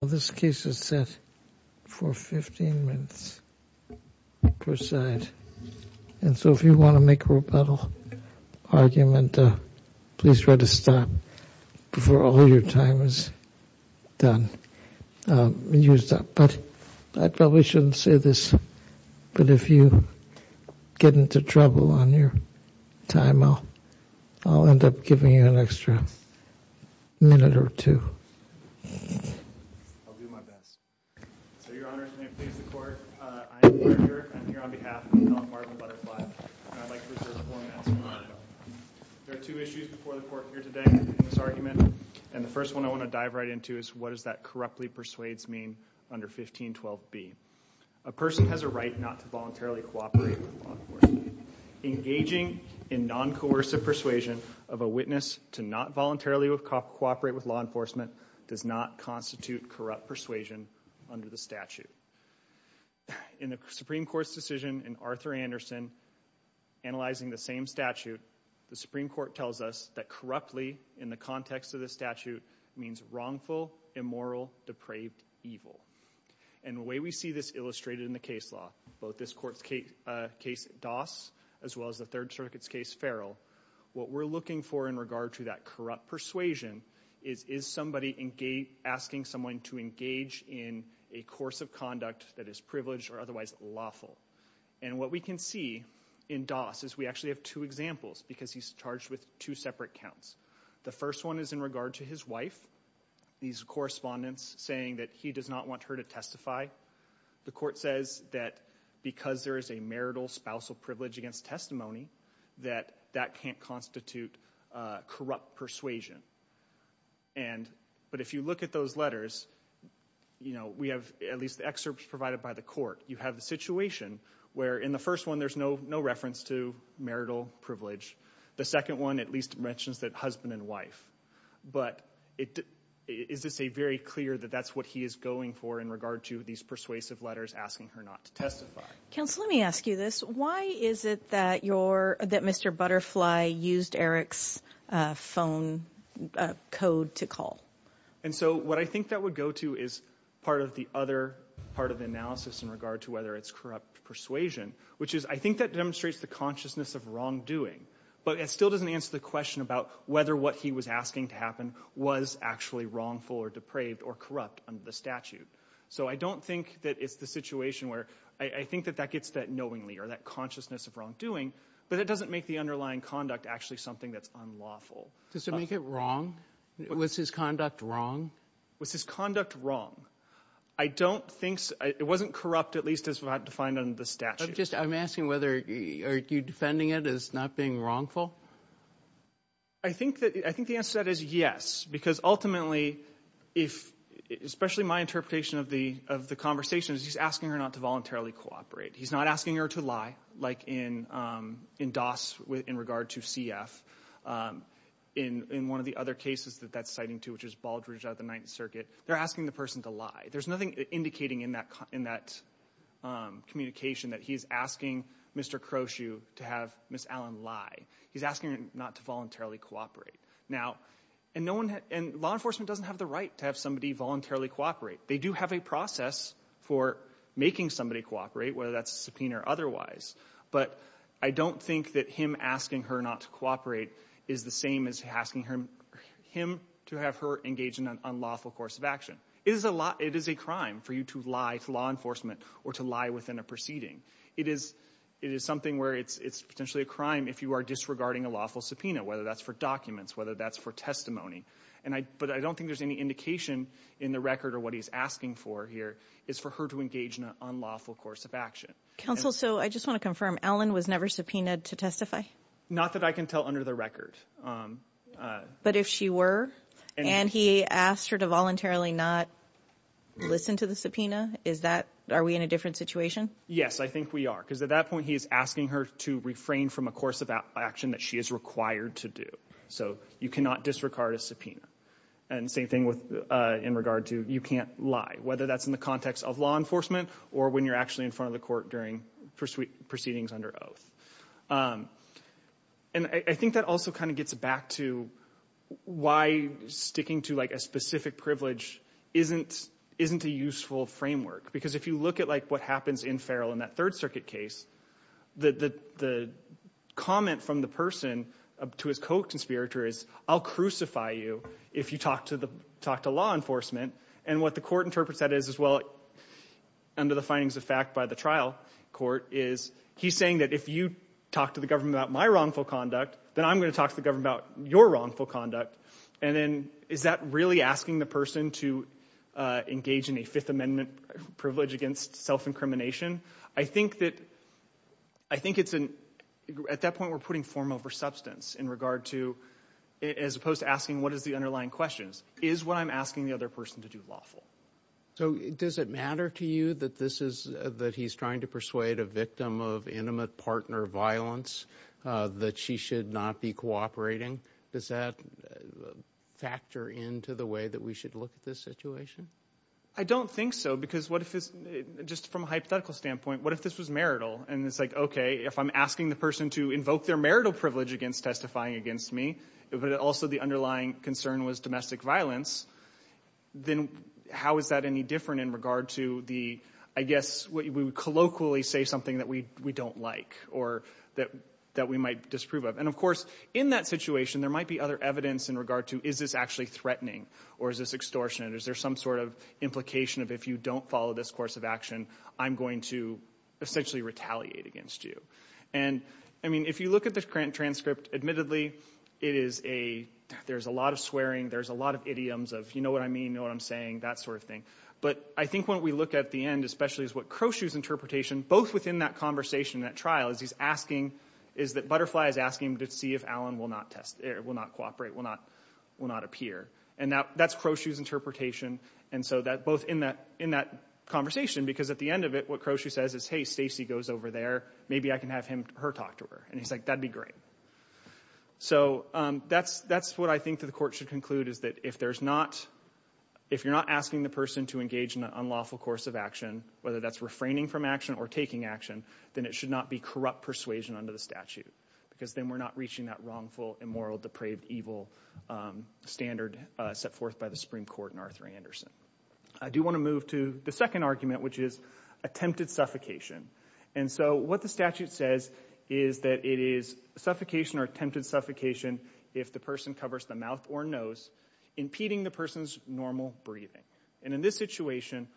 This case is set for 15 minutes per side, and so if you want to make a rebuttal argument, please try to stop before all your time is used up. I probably shouldn't say this, but if you get into trouble on your time, I'll end up giving you an extra minute or two. I'll do my best. So, Your Honor, may it please the Court, I am Boyer Dirk, I'm here on behalf of the nonpartisan Butterfly, and I'd like to reserve the floor and ask for your aye vote. There are two issues before the Court here today in this argument, and the first one I want to dive right into is what does that corruptly persuades mean under 1512b? A person has a right not to voluntarily cooperate with law enforcement. Engaging in non-coercive persuasion of a witness to not voluntarily cooperate with law enforcement does not constitute corrupt persuasion under the statute. In the Supreme Court's decision in Arthur Anderson, analyzing the same statute, the Supreme Court tells us that corruptly, in the context of the statute, means wrongful, immoral, depraved, evil. And the way we see this illustrated in the case law, both this Court's case, Doss, as well as the Third Circuit's case, Farrell, what we're looking for in regard to that corrupt persuasion is, is somebody asking someone to engage in a course of conduct that is privileged or otherwise lawful? And what we can see in Doss is we actually have two examples, because he's charged with two separate counts. The first one is in regard to his wife. These correspondents saying that he does not want her to testify. The Court says that because there is a marital, spousal privilege against testimony, that that can't constitute corrupt persuasion. And, but if you look at those letters, you know, we have at least excerpts provided by the Court. You have the situation where in the first one there's no reference to marital privilege. The second one at least mentions that husband and wife. But it, is this a very clear that that's what he is going for in regard to these persuasive letters asking her not to testify? Counsel, let me ask you this. Why is it that you're, that Mr. Butterfly used Eric's phone code to call? And so what I think that would go to is part of the other part of the analysis in regard to whether it's corrupt persuasion, which is, I think that demonstrates the consciousness of wrongdoing. But it still doesn't answer the question about whether what he was asking to happen was actually wrongful or depraved or corrupt under the statute. So I don't think that it's the situation where, I think that that gets that knowingly or that consciousness of wrongdoing, but it doesn't make the underlying conduct actually something that's unlawful. Does it make it wrong? Was his conduct wrong? Was his conduct wrong? I don't think, it wasn't corrupt at least as defined under the statute. I'm just, I'm asking whether, are you defending it as not being wrongful? I think that, I think the answer to that is yes. Because ultimately, if, especially my interpretation of the, of the conversation is he's asking her not to voluntarily cooperate. He's not asking her to lie, like in, in Doss with, in regard to CF. In, in one of the other cases that that's citing to, which is Baldrige out of the Ninth Circuit, they're asking the person to lie. There's nothing indicating in that, in that communication that he's asking Mr. Crowshue to have Ms. Allen lie. He's asking her not to voluntarily cooperate. Now, and no one, and law enforcement doesn't have the right to have somebody voluntarily cooperate. They do have a process for making somebody cooperate, whether that's subpoena or otherwise. But I don't think that him asking her not to cooperate is the same as asking her, him to have her engage in an unlawful course of action. It is a law, it is a crime for you to lie to law enforcement or to lie within a proceeding. It is, it is something where it's, it's potentially a crime if you are disregarding a lawful subpoena, whether that's for documents, whether that's for testimony. And I, but I don't think there's any indication in the record of what he's asking for here is for her to engage in an unlawful course of action. Counsel, so I just want to confirm, Allen was never subpoenaed to testify? Not that I can tell under the record. But if she were, and he asked her to voluntarily not listen to the subpoena, is that, are we in a different situation? Yes, I think we are. Because at that point, he is asking her to refrain from a course of action that she is required to do. So you cannot disregard a subpoena. And same thing with, in regard to you can't lie, whether that's in the context of law enforcement or when you're actually in front of the court during proceedings under oath. And I think that also kind of gets back to why sticking to like a specific privilege isn't, isn't a useful framework. Because if you look at like what happens in Farrell in that Third Circuit case, the comment from the person to his co-conspirator is, I'll crucify you if you talk to the, talk to law enforcement. And what the court interprets that as as well, under the findings of fact by the trial court is, he's saying that if you talk to the government about my wrongful conduct, then I'm going to talk to the government about your wrongful conduct. And then is that really asking the person to engage in a Fifth Amendment privilege against self-incrimination? I think that, I think it's an, at that point we're putting form over substance in regard to, as opposed to asking what is the underlying questions. Is what I'm asking the other person to do lawful? So does it matter to you that this is, that he's trying to persuade a victim of intimate partner violence that she should not be cooperating? Does that factor into the way that we should look at this situation? I don't think so, because what if this, just from a hypothetical standpoint, what if this was marital? And it's like, okay, if I'm asking the person to invoke their marital privilege against me, but also the underlying concern was domestic violence, then how is that any different in regard to the, I guess, we would colloquially say something that we don't like, or that we might disprove of. And of course, in that situation, there might be other evidence in regard to, is this actually threatening, or is this extortionate? Is there some sort of implication of, if you don't follow this course of action, I'm going to essentially retaliate against you. And, I mean, if you look at the transcript, admittedly, it is a, there's a lot of swearing, there's a lot of idioms of, you know what I mean, you know what I'm saying, that sort of thing. But I think when we look at the end, especially as what Crochu's interpretation, both within that conversation, that trial, is he's asking, is that Butterfly is asking to see if Alan will not test, will not cooperate, will not appear. And that's Crochu's interpretation, and so that, both in that conversation, because at the end of it, what Crochu says is, hey, Stacey goes over there, maybe I can have her talk to her. And he's like, that'd be great. So, that's what I think the court should conclude, is that if there's not, if you're not asking the person to engage in an unlawful course of action, whether that's refraining from action, or taking action, then it should not be corrupt persuasion under the statute. Because then we're not reaching that wrongful, immoral, depraved, evil standard set forth by the Supreme Court and Arthur A. Anderson. I do want to move to the second argument, which is attempted suffocation. And so, what the statute says is that it is suffocation or attempted suffocation if the person covers the mouth or nose, impeding the person's normal breathing. And in this situation,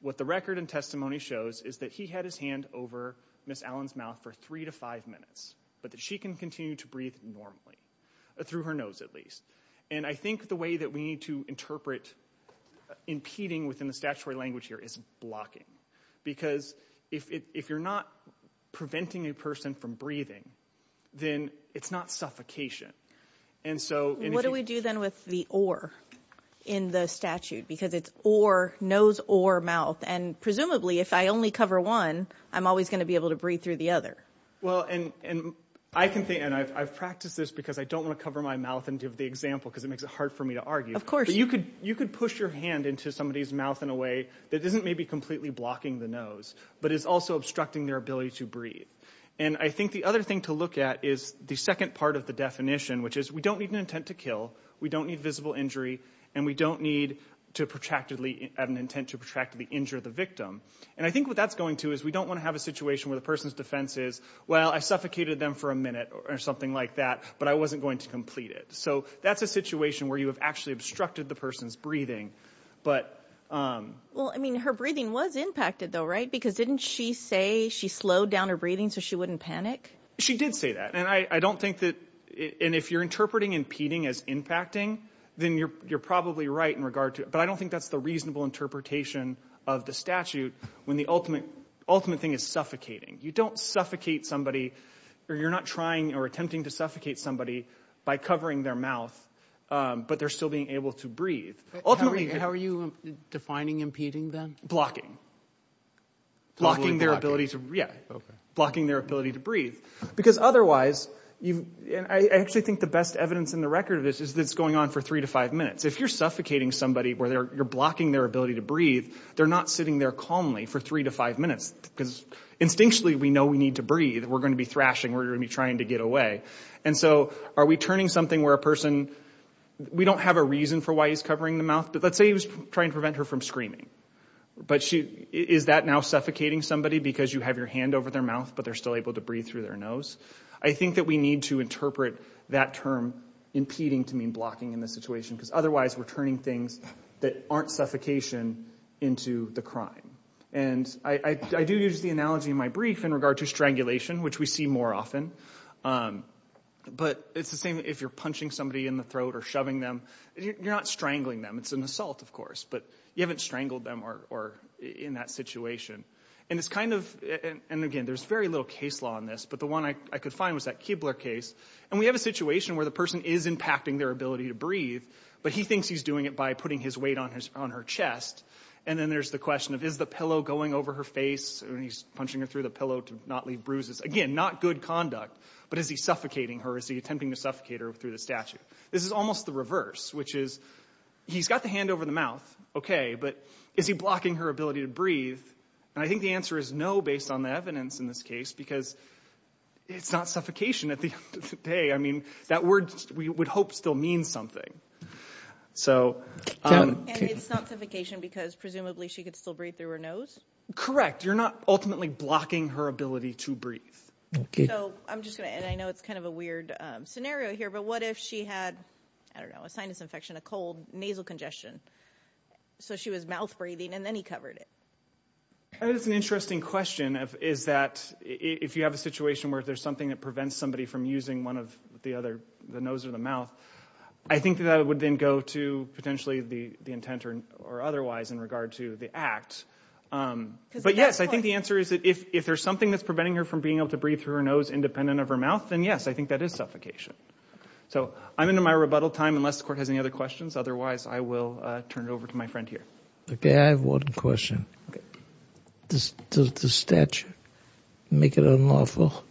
what the record and testimony shows is that he had his hand over Ms. Allen's mouth for three to five minutes, but that she can continue to breathe normally, through her nose at least. And I think the way that we need to interpret impeding within the statutory language here is blocking. Because if you're not preventing a person from breathing, then it's not suffocation. And so, if you... What do we do then with the or in the statute? Because it's or, nose or mouth. And presumably, if I only cover one, I'm always going to be able to breathe through the other. Well, and I can think, and I've practiced this because I don't want to cover my mouth and give the example, because it makes it hard for me to argue. Of course. You could push your hand into somebody's mouth in a way that isn't maybe completely blocking the nose, but is also obstructing their ability to breathe. And I think the other thing to look at is the second part of the definition, which is we don't need an intent to kill, we don't need visible injury, and we don't need to protractedly, have an intent to protractedly injure the victim. And I think what that's going to is we don't want to have a situation where the person's defense is, well, I suffocated them for a minute or something like that, but I wasn't going to complete it. So, that's a situation where you have actually obstructed the person's breathing. But... Well, I mean, her breathing was impacted, though, right? Because didn't she say she slowed down her breathing so she wouldn't panic? She did say that. And I don't think that, and if you're interpreting impeding as impacting, then you're probably right in regard to, but I don't think that's the reasonable interpretation of the statute when the ultimate thing is suffocating. You don't suffocate somebody, or you're not trying or attempting to suffocate somebody by covering their mouth, but they're still being able to breathe. Ultimately... How are you defining impeding, then? Blocking. Totally blocking. Blocking their ability to... Yeah. Okay. Blocking their ability to breathe. Because otherwise, and I actually think the best evidence in the record of this is that it's going on for three to five minutes. If you're suffocating somebody where you're blocking their ability to breathe, they're not sitting there calmly for three to five minutes, because instinctually, we know we need to breathe. We're going to be thrashing. We're going to be trying to get away. And so, are we turning something where a person... We don't have a reason for why he's covering the mouth, but let's say he was trying to prevent her from screaming. But is that now suffocating somebody because you have your hand over their mouth, but they're still able to breathe through their nose? I think that we need to interpret that term impeding to mean blocking in this situation, because otherwise, we're turning things that aren't suffocation into the crime. And I do use the analogy in my brief in regard to strangulation, which we see more often. But it's the same if you're punching somebody in the throat or shoving them. You're not strangling them. It's an assault, of course, but you haven't strangled them or in that situation. And it's kind of... And again, there's very little case law in this, but the one I could find was that Kibler case. And we have a situation where the person is impacting their ability to breathe, but he thinks he's doing it by putting his weight on her chest. And then there's the question of, is the pillow going over her face? And he's punching her through the pillow to not leave bruises. Again, not good conduct, but is he suffocating her? Is he attempting to suffocate her through the statue? This is almost the reverse, which is, he's got the hand over the mouth, okay, but is he blocking her ability to breathe? And I think the answer is no, based on the evidence in this case, because it's not suffocation at the end of the day. I mean, that word we would hope still means something. So... And it's not suffocation because presumably she could still breathe through her nose? Correct. You're not ultimately blocking her ability to breathe. Okay. So I'm just going to... And I know it's kind of a weird scenario here, but what if she had, I don't know, a sinus infection, a cold, nasal congestion? So she was mouth-breathing and then he covered it. That is an interesting question, is that if you have a situation where there's something that prevents somebody from using one of the other, the nose or the mouth, I think that would then go to potentially the intent or otherwise in regard to the act. But yes, I think the answer is that if there's something that's preventing her from being able to breathe through her nose independent of her mouth, then yes, I think that is suffocation. So I'm into my rebuttal time, unless the Court has any other questions. Otherwise, I will turn it over to my friend here. Okay, I have one question. Does the statute make it unlawful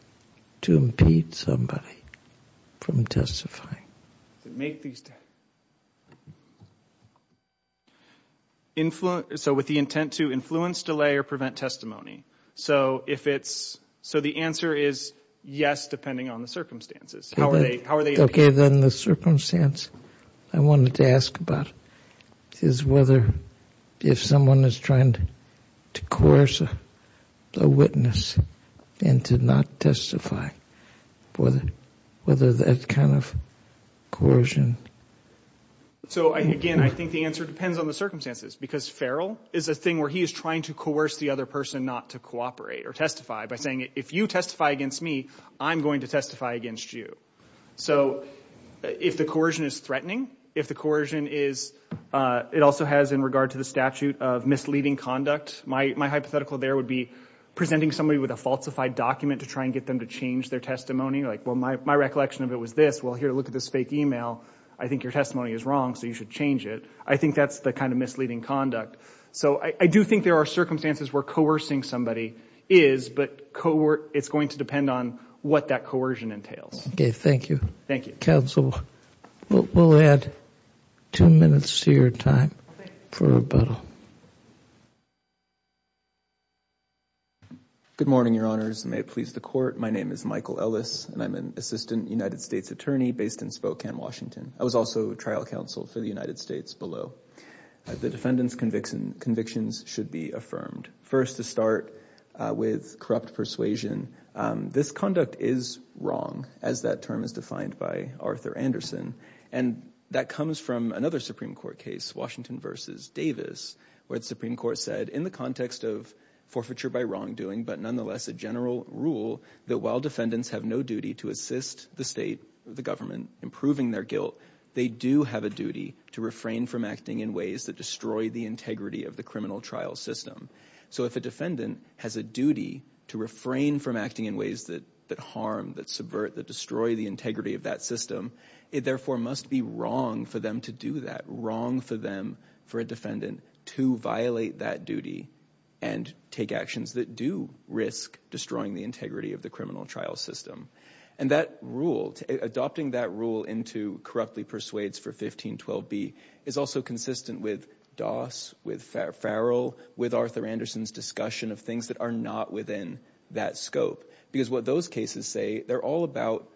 to impede somebody from testifying? Make these... So with the intent to influence, delay, or prevent testimony. So if it's... So the answer is yes, depending on the circumstances. How are they... Okay, then the circumstance I wanted to ask about is whether if someone is trying to coerce a witness and to not testify, whether that kind of coercion... So again, I think the answer depends on the circumstances because Farrell is a thing where he is trying to coerce the other person not to cooperate or testify by saying, if you testify against me, I'm going to testify against you. So if the coercion is threatening, if the coercion is... It also has in regard to the statute of misleading conduct. My hypothetical there would be presenting somebody with a falsified document to try and get them to change their testimony. Like, well, my recollection of it was this. Well, here, look at this fake email. I think your testimony is wrong, so you should change it. I think that's the kind of misleading conduct. So I do think there are circumstances where coercing somebody is, but it's going to depend on what that coercion entails. Okay, thank you. Thank you. Counsel, we'll add two minutes to your time for rebuttal. Good morning, Your Honors, and may it please the Court. My name is Michael Ellis, and I'm an assistant United States attorney based in Spokane, Washington. I was also trial counsel for the United States below. The defendant's convictions should be affirmed. First, to start with corrupt persuasion. This conduct is wrong, as that term is defined by Arthur Anderson, and that comes from another Supreme Court case, Washington v. Davis, where the Supreme Court said in the context of forfeiture by wrongdoing, but nonetheless a general rule that while defendants have no duty to assist the state, the government, in proving their guilt, they do have a duty to refrain from acting in ways that destroy the integrity of the criminal trial system. So if a defendant has a duty to refrain from acting in ways that harm, that subvert, that destroy the integrity of that system, it therefore must be wrong for them to do that, wrong for them, for a defendant, to violate that duty and take actions that do risk destroying the integrity of the criminal trial system. And that rule, adopting that rule into corruptly persuades for 1512b, is also consistent with Doss, with Farrell, with Arthur Anderson's discussion of things that are not within that scope. Because what those cases say, they're all about,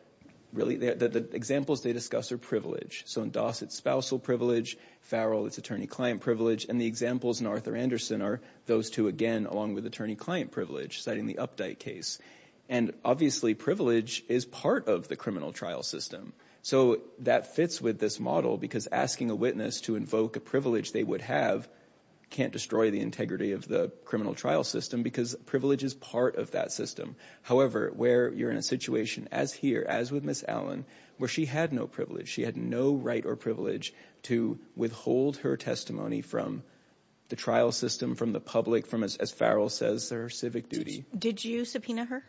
really, the examples they discuss are privilege. So in Doss, it's spousal privilege. Farrell, it's attorney-client privilege. And the examples in Arthur Anderson are those two again, along with attorney-client privilege, citing the Updike case. And obviously, privilege is part of the criminal trial system. So that fits with this model because asking a witness to invoke a privilege they would have can't destroy the integrity of the criminal trial system because privilege is part of that system. However, where you're in a situation, as here, as with Ms. Allen, where she had no privilege, she had no right or privilege to withhold her testimony from the trial system, from the public, from, as Farrell says, her civic duty. Did you subpoena her?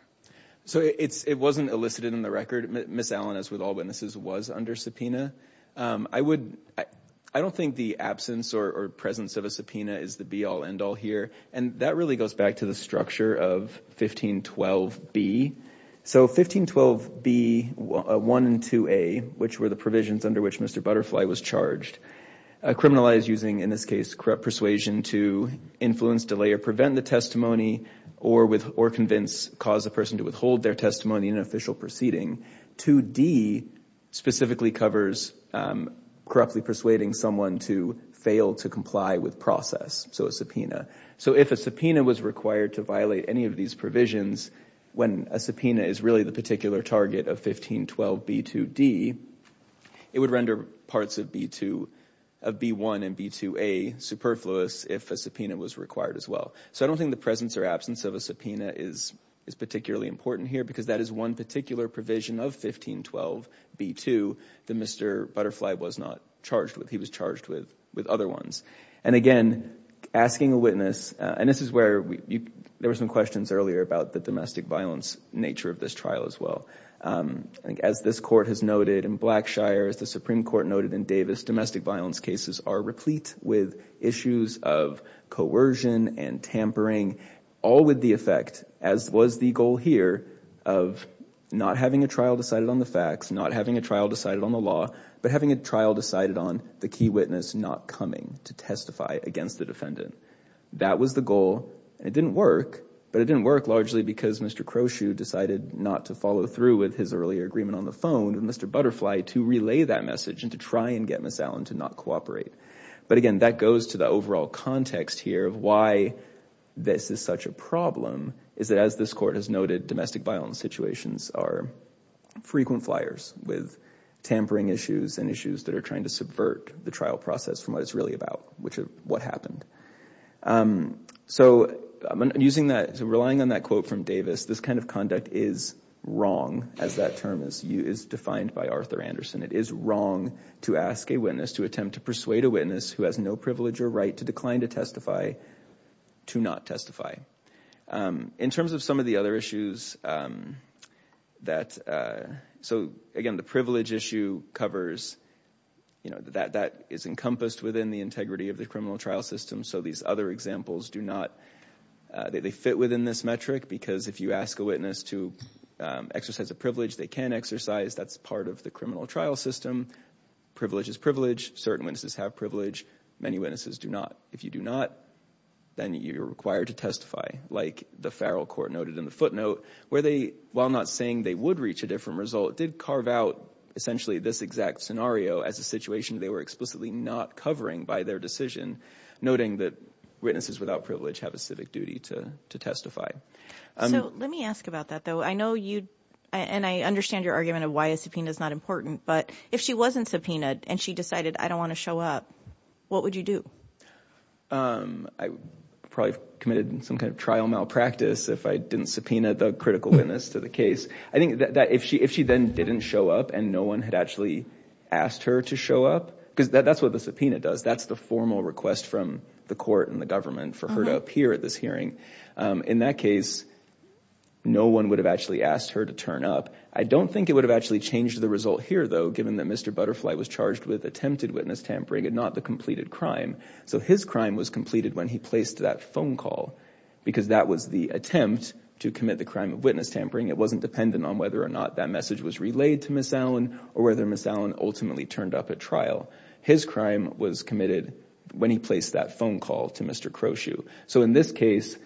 So it wasn't elicited in the record. Ms. Allen, as with all witnesses, was under subpoena. I don't think the absence or presence of a subpoena is the be-all, end-all here. And that really goes back to the structure of 1512B. So 1512B, 1 and 2A, which were the provisions under which Mr. Butterfly was charged, criminalized using, in this case, corrupt persuasion to influence, delay, or prevent the testimony or convince, cause a person to withhold their testimony in an official proceeding. 2D specifically covers corruptly persuading someone to fail to comply with process, so a subpoena. So if a subpoena was required to violate any of these provisions, when a subpoena is really the particular target of 1512B2D, it would render parts of B1 and B2A superfluous if a subpoena was required as well. So I don't think the presence or absence of a subpoena is particularly important here because that is one particular provision of 1512B2 that Mr. Butterfly was not charged with. He was charged with other ones. And again, asking a witness, and this is where there were some questions earlier about the domestic violence nature of this trial as well. As this Court has noted in Blackshire, as the Supreme Court noted in Davis, domestic violence cases are replete with issues of coercion and tampering, all with the effect, as was the goal here, of not having a trial decided on the facts, not having a trial decided on the law, but having a trial decided on the key witness not coming to testify against the defendant. That was the goal. It didn't work, but it didn't work largely because Mr. Crowshue decided not to follow through with his earlier agreement on the phone with Mr. Butterfly to relay that message and to try and get Ms. Allen to not cooperate. But again, that goes to the overall context here of why this is such a problem, is that as this Court has noted, domestic violence situations are frequent flyers with tampering issues and issues that are trying to subvert the trial process from what it's really about, which is what happened. So relying on that quote from Davis, this kind of conduct is wrong, as that term is defined by Arthur Anderson. It is wrong to ask a witness, to attempt to persuade a witness who has no privilege or right to decline to testify, to not testify. In terms of some of the other issues, so again, the privilege issue covers, that is encompassed within the integrity of the criminal trial system, so these other examples do not, they fit within this metric because if you ask a witness to exercise a privilege, they can exercise. That's part of the criminal trial system. Privilege is privilege. Certain witnesses have privilege. Many witnesses do not. If you do not, then you're required to testify, like the Farrell Court noted in the footnote, where they, while not saying they would reach a different result, did carve out essentially this exact scenario as a situation they were explicitly not covering by their decision, noting that witnesses without privilege have a civic duty to testify. So let me ask about that, though. I know you, and I understand your argument of why a subpoena is not important, but if she wasn't subpoenaed and she decided, I don't want to show up, what would you do? I would probably have committed some kind of trial malpractice if I didn't subpoena the critical witness to the case. I think that if she then didn't show up and no one had actually asked her to show up, because that's what the subpoena does. That's the formal request from the court and the government for her to appear at this hearing. In that case, no one would have actually asked her to turn up. I don't think it would have actually changed the result here, though, given that Mr. Butterfly was charged with attempted witness tampering and not the completed crime. So his crime was completed when he placed that phone call because that was the attempt to commit the crime of witness tampering. It wasn't dependent on whether or not that message was relayed to Ms. Allen or whether Ms. Allen ultimately turned up at trial. His crime was committed when he placed that phone call to Mr. Crowshue. So in this case,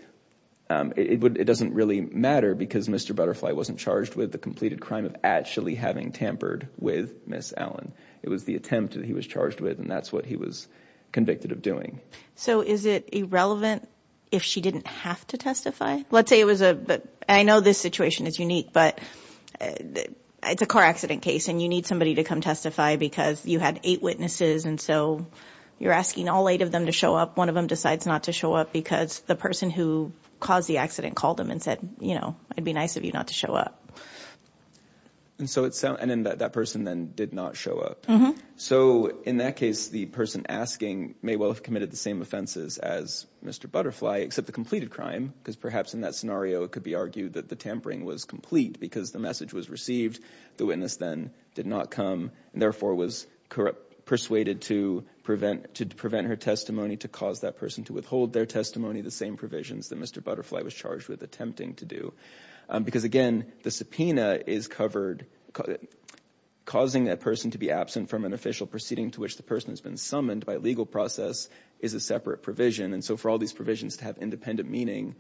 it doesn't really matter because Mr. Butterfly wasn't charged with the completed crime of actually having tampered with Ms. Allen. It was the attempt that he was charged with, and that's what he was convicted of doing. So is it irrelevant if she didn't have to testify? Let's say it was a—I know this situation is unique, but it's a car accident case and you need somebody to come testify because you had eight witnesses, and so you're asking all eight of them to show up. One of them decides not to show up because the person who caused the accident called him and said, you know, it'd be nice of you not to show up. And so that person then did not show up. So in that case, the person asking may well have committed the same offenses as Mr. Butterfly except the completed crime because perhaps in that scenario it could be argued that the tampering was complete because the message was received. The witness then did not come and therefore was persuaded to prevent her testimony to cause that person to withhold their testimony, the same provisions that Mr. Butterfly was charged with attempting to do. Because, again, the subpoena is covered. Causing a person to be absent from an official proceeding to which the person has been summoned by legal process is a separate provision, and so for all these provisions to have independent meaning,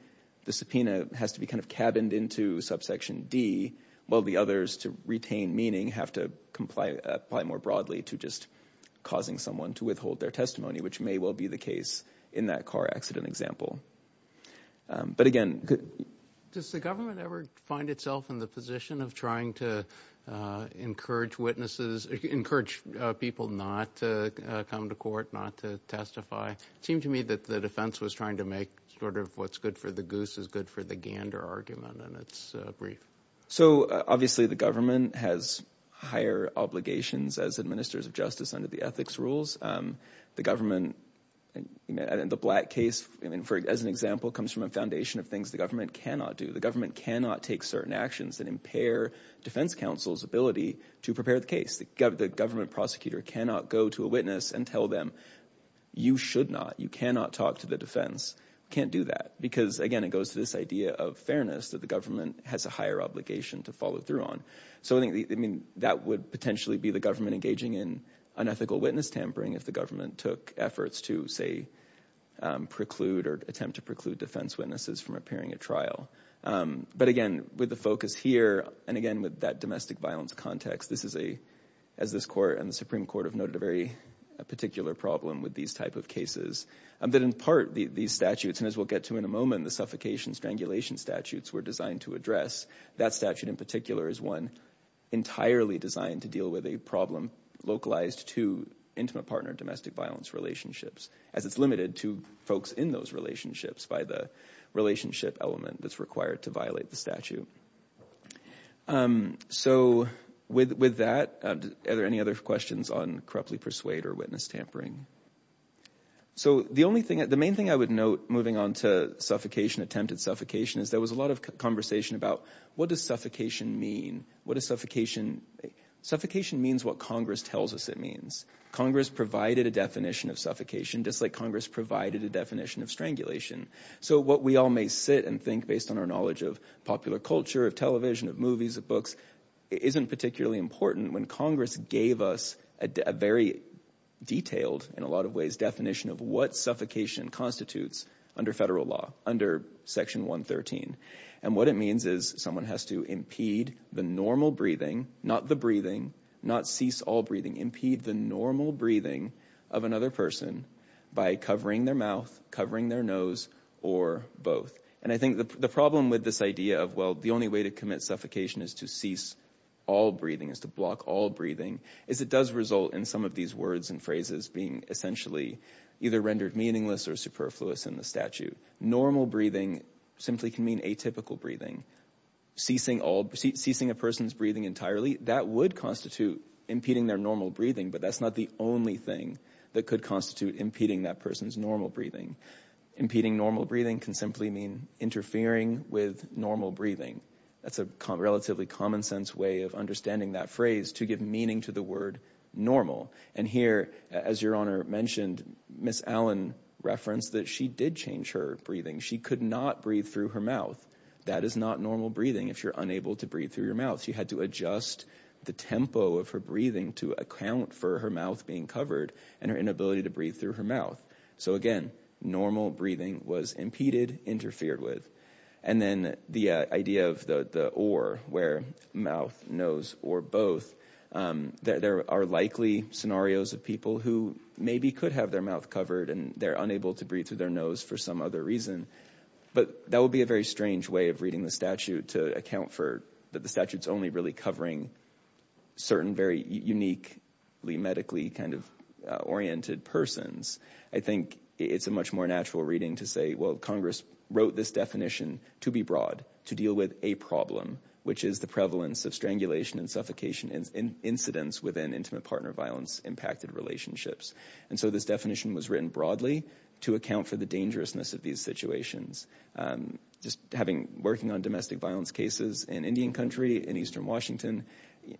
the subpoena has to be kind of cabined into subsection D, while the others to retain meaning have to comply more broadly to just causing someone to withhold their testimony, which may well be the case in that car accident example. But, again— Does the government ever find itself in the position of trying to encourage witnesses, encourage people not to come to court, not to testify? It seemed to me that the defense was trying to make sort of what's good for the goose is good for the gander argument, and it's brief. So, obviously, the government has higher obligations as administrators of justice under the ethics rules. The government, in the Black case, as an example, comes from a foundation of things the government cannot do. The government cannot take certain actions that impair defense counsel's ability to prepare the case. The government prosecutor cannot go to a witness and tell them, you should not, you cannot talk to the defense, can't do that. Because, again, it goes to this idea of fairness that the government has a higher obligation to follow through on. So, I mean, that would potentially be the government engaging in unethical witness tampering if the government took efforts to, say, preclude or attempt to preclude defense witnesses from appearing at trial. But, again, with the focus here, and, again, with that domestic violence context, this is a—as this court and the Supreme Court have noted, a very particular problem with these type of cases. That, in part, these statutes—and as we'll get to in a moment, the suffocation strangulation statutes were designed to address. That statute, in particular, is one entirely designed to deal with a problem localized to intimate partner domestic violence relationships, as it's limited to folks in those relationships by the relationship element that's required to violate the statute. So, with that, are there any other questions on corruptly persuade or witness tampering? So, the main thing I would note, moving on to suffocation, attempted suffocation, is there was a lot of conversation about what does suffocation mean? What does suffocation—suffocation means what Congress tells us it means. Congress provided a definition of suffocation, just like Congress provided a definition of strangulation. So what we all may sit and think, based on our knowledge of popular culture, of television, of movies, of books, isn't particularly important when Congress gave us a very detailed, in a lot of ways, definition of what suffocation constitutes under federal law, under Section 113. And what it means is someone has to impede the normal breathing, not the breathing, not cease all breathing, impede the normal breathing of another person by covering their mouth, covering their nose, or both. And I think the problem with this idea of, well, the only way to commit suffocation is to cease all breathing, is to block all breathing, is it does result in some of these words and phrases being essentially either rendered meaningless or superfluous in the statute. Normal breathing simply can mean atypical breathing. Ceasing a person's breathing entirely, that would constitute impeding their normal breathing, but that's not the only thing that could constitute impeding that person's normal breathing. Impeding normal breathing can simply mean interfering with normal breathing. That's a relatively common sense way of understanding that phrase to give meaning to the word normal. And here, as Your Honor mentioned, Ms. Allen referenced that she did change her breathing. She could not breathe through her mouth. That is not normal breathing if you're unable to breathe through your mouth. She had to adjust the tempo of her breathing to account for her mouth being covered and her inability to breathe through her mouth. So again, normal breathing was impeded, interfered with. And then the idea of the or, where mouth, nose, or both, there are likely scenarios of people who maybe could have their mouth covered and they're unable to breathe through their nose for some other reason, but that would be a very strange way of reading the statute to account for that the statute's only really covering certain very uniquely medically oriented persons. I think it's a much more natural reading to say, well, Congress wrote this definition to be broad, to deal with a problem, which is the prevalence of strangulation and suffocation and incidents within intimate partner violence-impacted relationships. And so this definition was written broadly to account for the dangerousness of these situations. Just having, working on domestic violence cases in Indian country, in eastern Washington,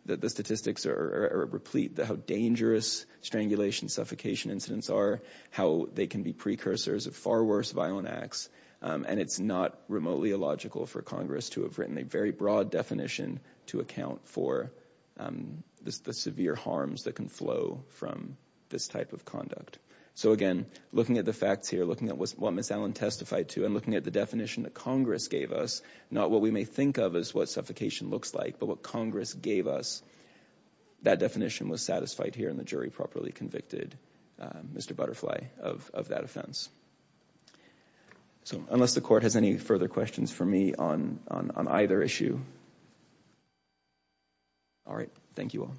the statistics are replete how dangerous strangulation and suffocation incidents are, how they can be precursors of far worse violent acts, and it's not remotely illogical for Congress to have written a very broad definition to account for the severe harms that can flow from this type of conduct. So again, looking at the facts here, looking at what Ms. Allen testified to, and looking at the definition that Congress gave us, not what we may think of as what suffocation looks like, but what Congress gave us, that definition was satisfied here, and the jury properly convicted Mr. Butterfly of that offense. So unless the court has any further questions for me on either issue, all right, thank you all.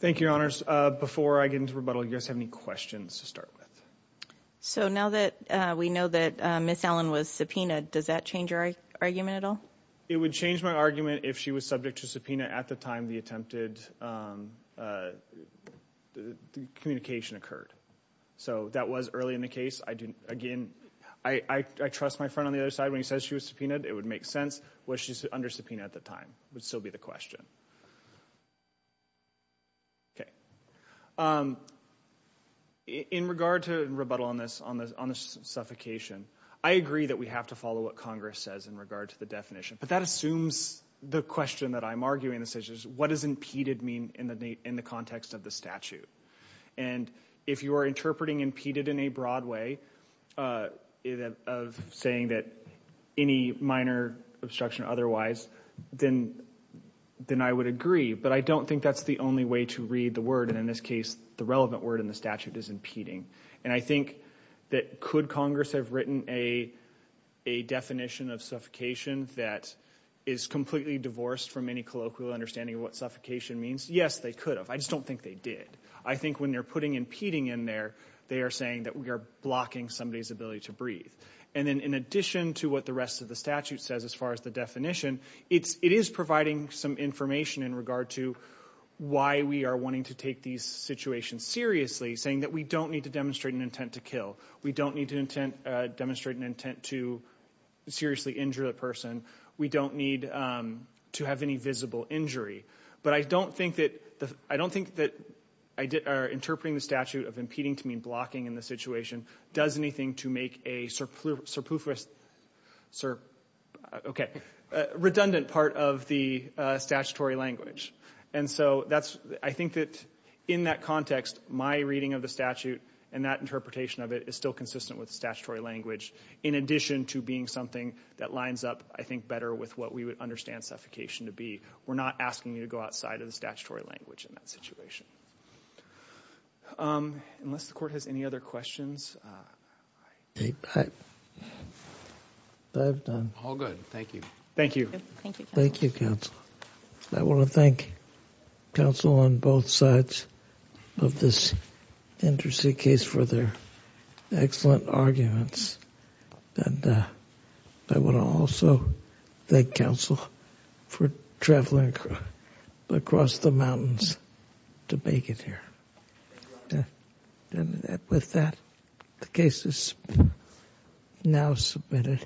Thank you, Your Honors. Before I get into rebuttal, do you guys have any questions to start with? So now that we know that Ms. Allen was subpoenaed, does that change your argument at all? It would change my argument if she was subject to subpoena at the time the attempted communication occurred. So that was early in the case. Again, I trust my friend on the other side. When he says she was subpoenaed, it would make sense. Was she under subpoena at the time would still be the question. Okay. In regard to rebuttal on this, on the suffocation, I agree that we have to follow what Congress says in regard to the definition, but that assumes the question that I'm arguing. What does impeded mean in the context of the statute? And if you are interpreting impeded in a broad way of saying that any minor obstruction otherwise, then I would agree, but I don't think that's the only way to read the word, and in this case the relevant word in the statute is impeding. And I think that could Congress have written a definition of suffocation that is completely divorced from any colloquial understanding of what suffocation means? Yes, they could have. I just don't think they did. I think when they're putting impeding in there, they are saying that we are blocking somebody's ability to breathe. And then in addition to what the rest of the statute says as far as the definition, it is providing some information in regard to why we are wanting to take these situations seriously, saying that we don't need to demonstrate an intent to kill. We don't need to demonstrate an intent to seriously injure a person. We don't need to have any visible injury. But I don't think that interpreting the statute of impeding to mean blocking in the situation does anything to make a redundant part of the statutory language. And so I think that in that context, my reading of the statute and that interpretation of it is still consistent with the statutory language in addition to being something that lines up, I think, better with what we would understand suffocation to be. We're not asking you to go outside of the statutory language in that situation. Unless the Court has any other questions. All good. Thank you. Thank you. Thank you, counsel. I want to thank counsel on both sides of this interesting case for their excellent arguments. And I want to also thank counsel for traveling across the mountains to make it here. And with that, the case is now submitted.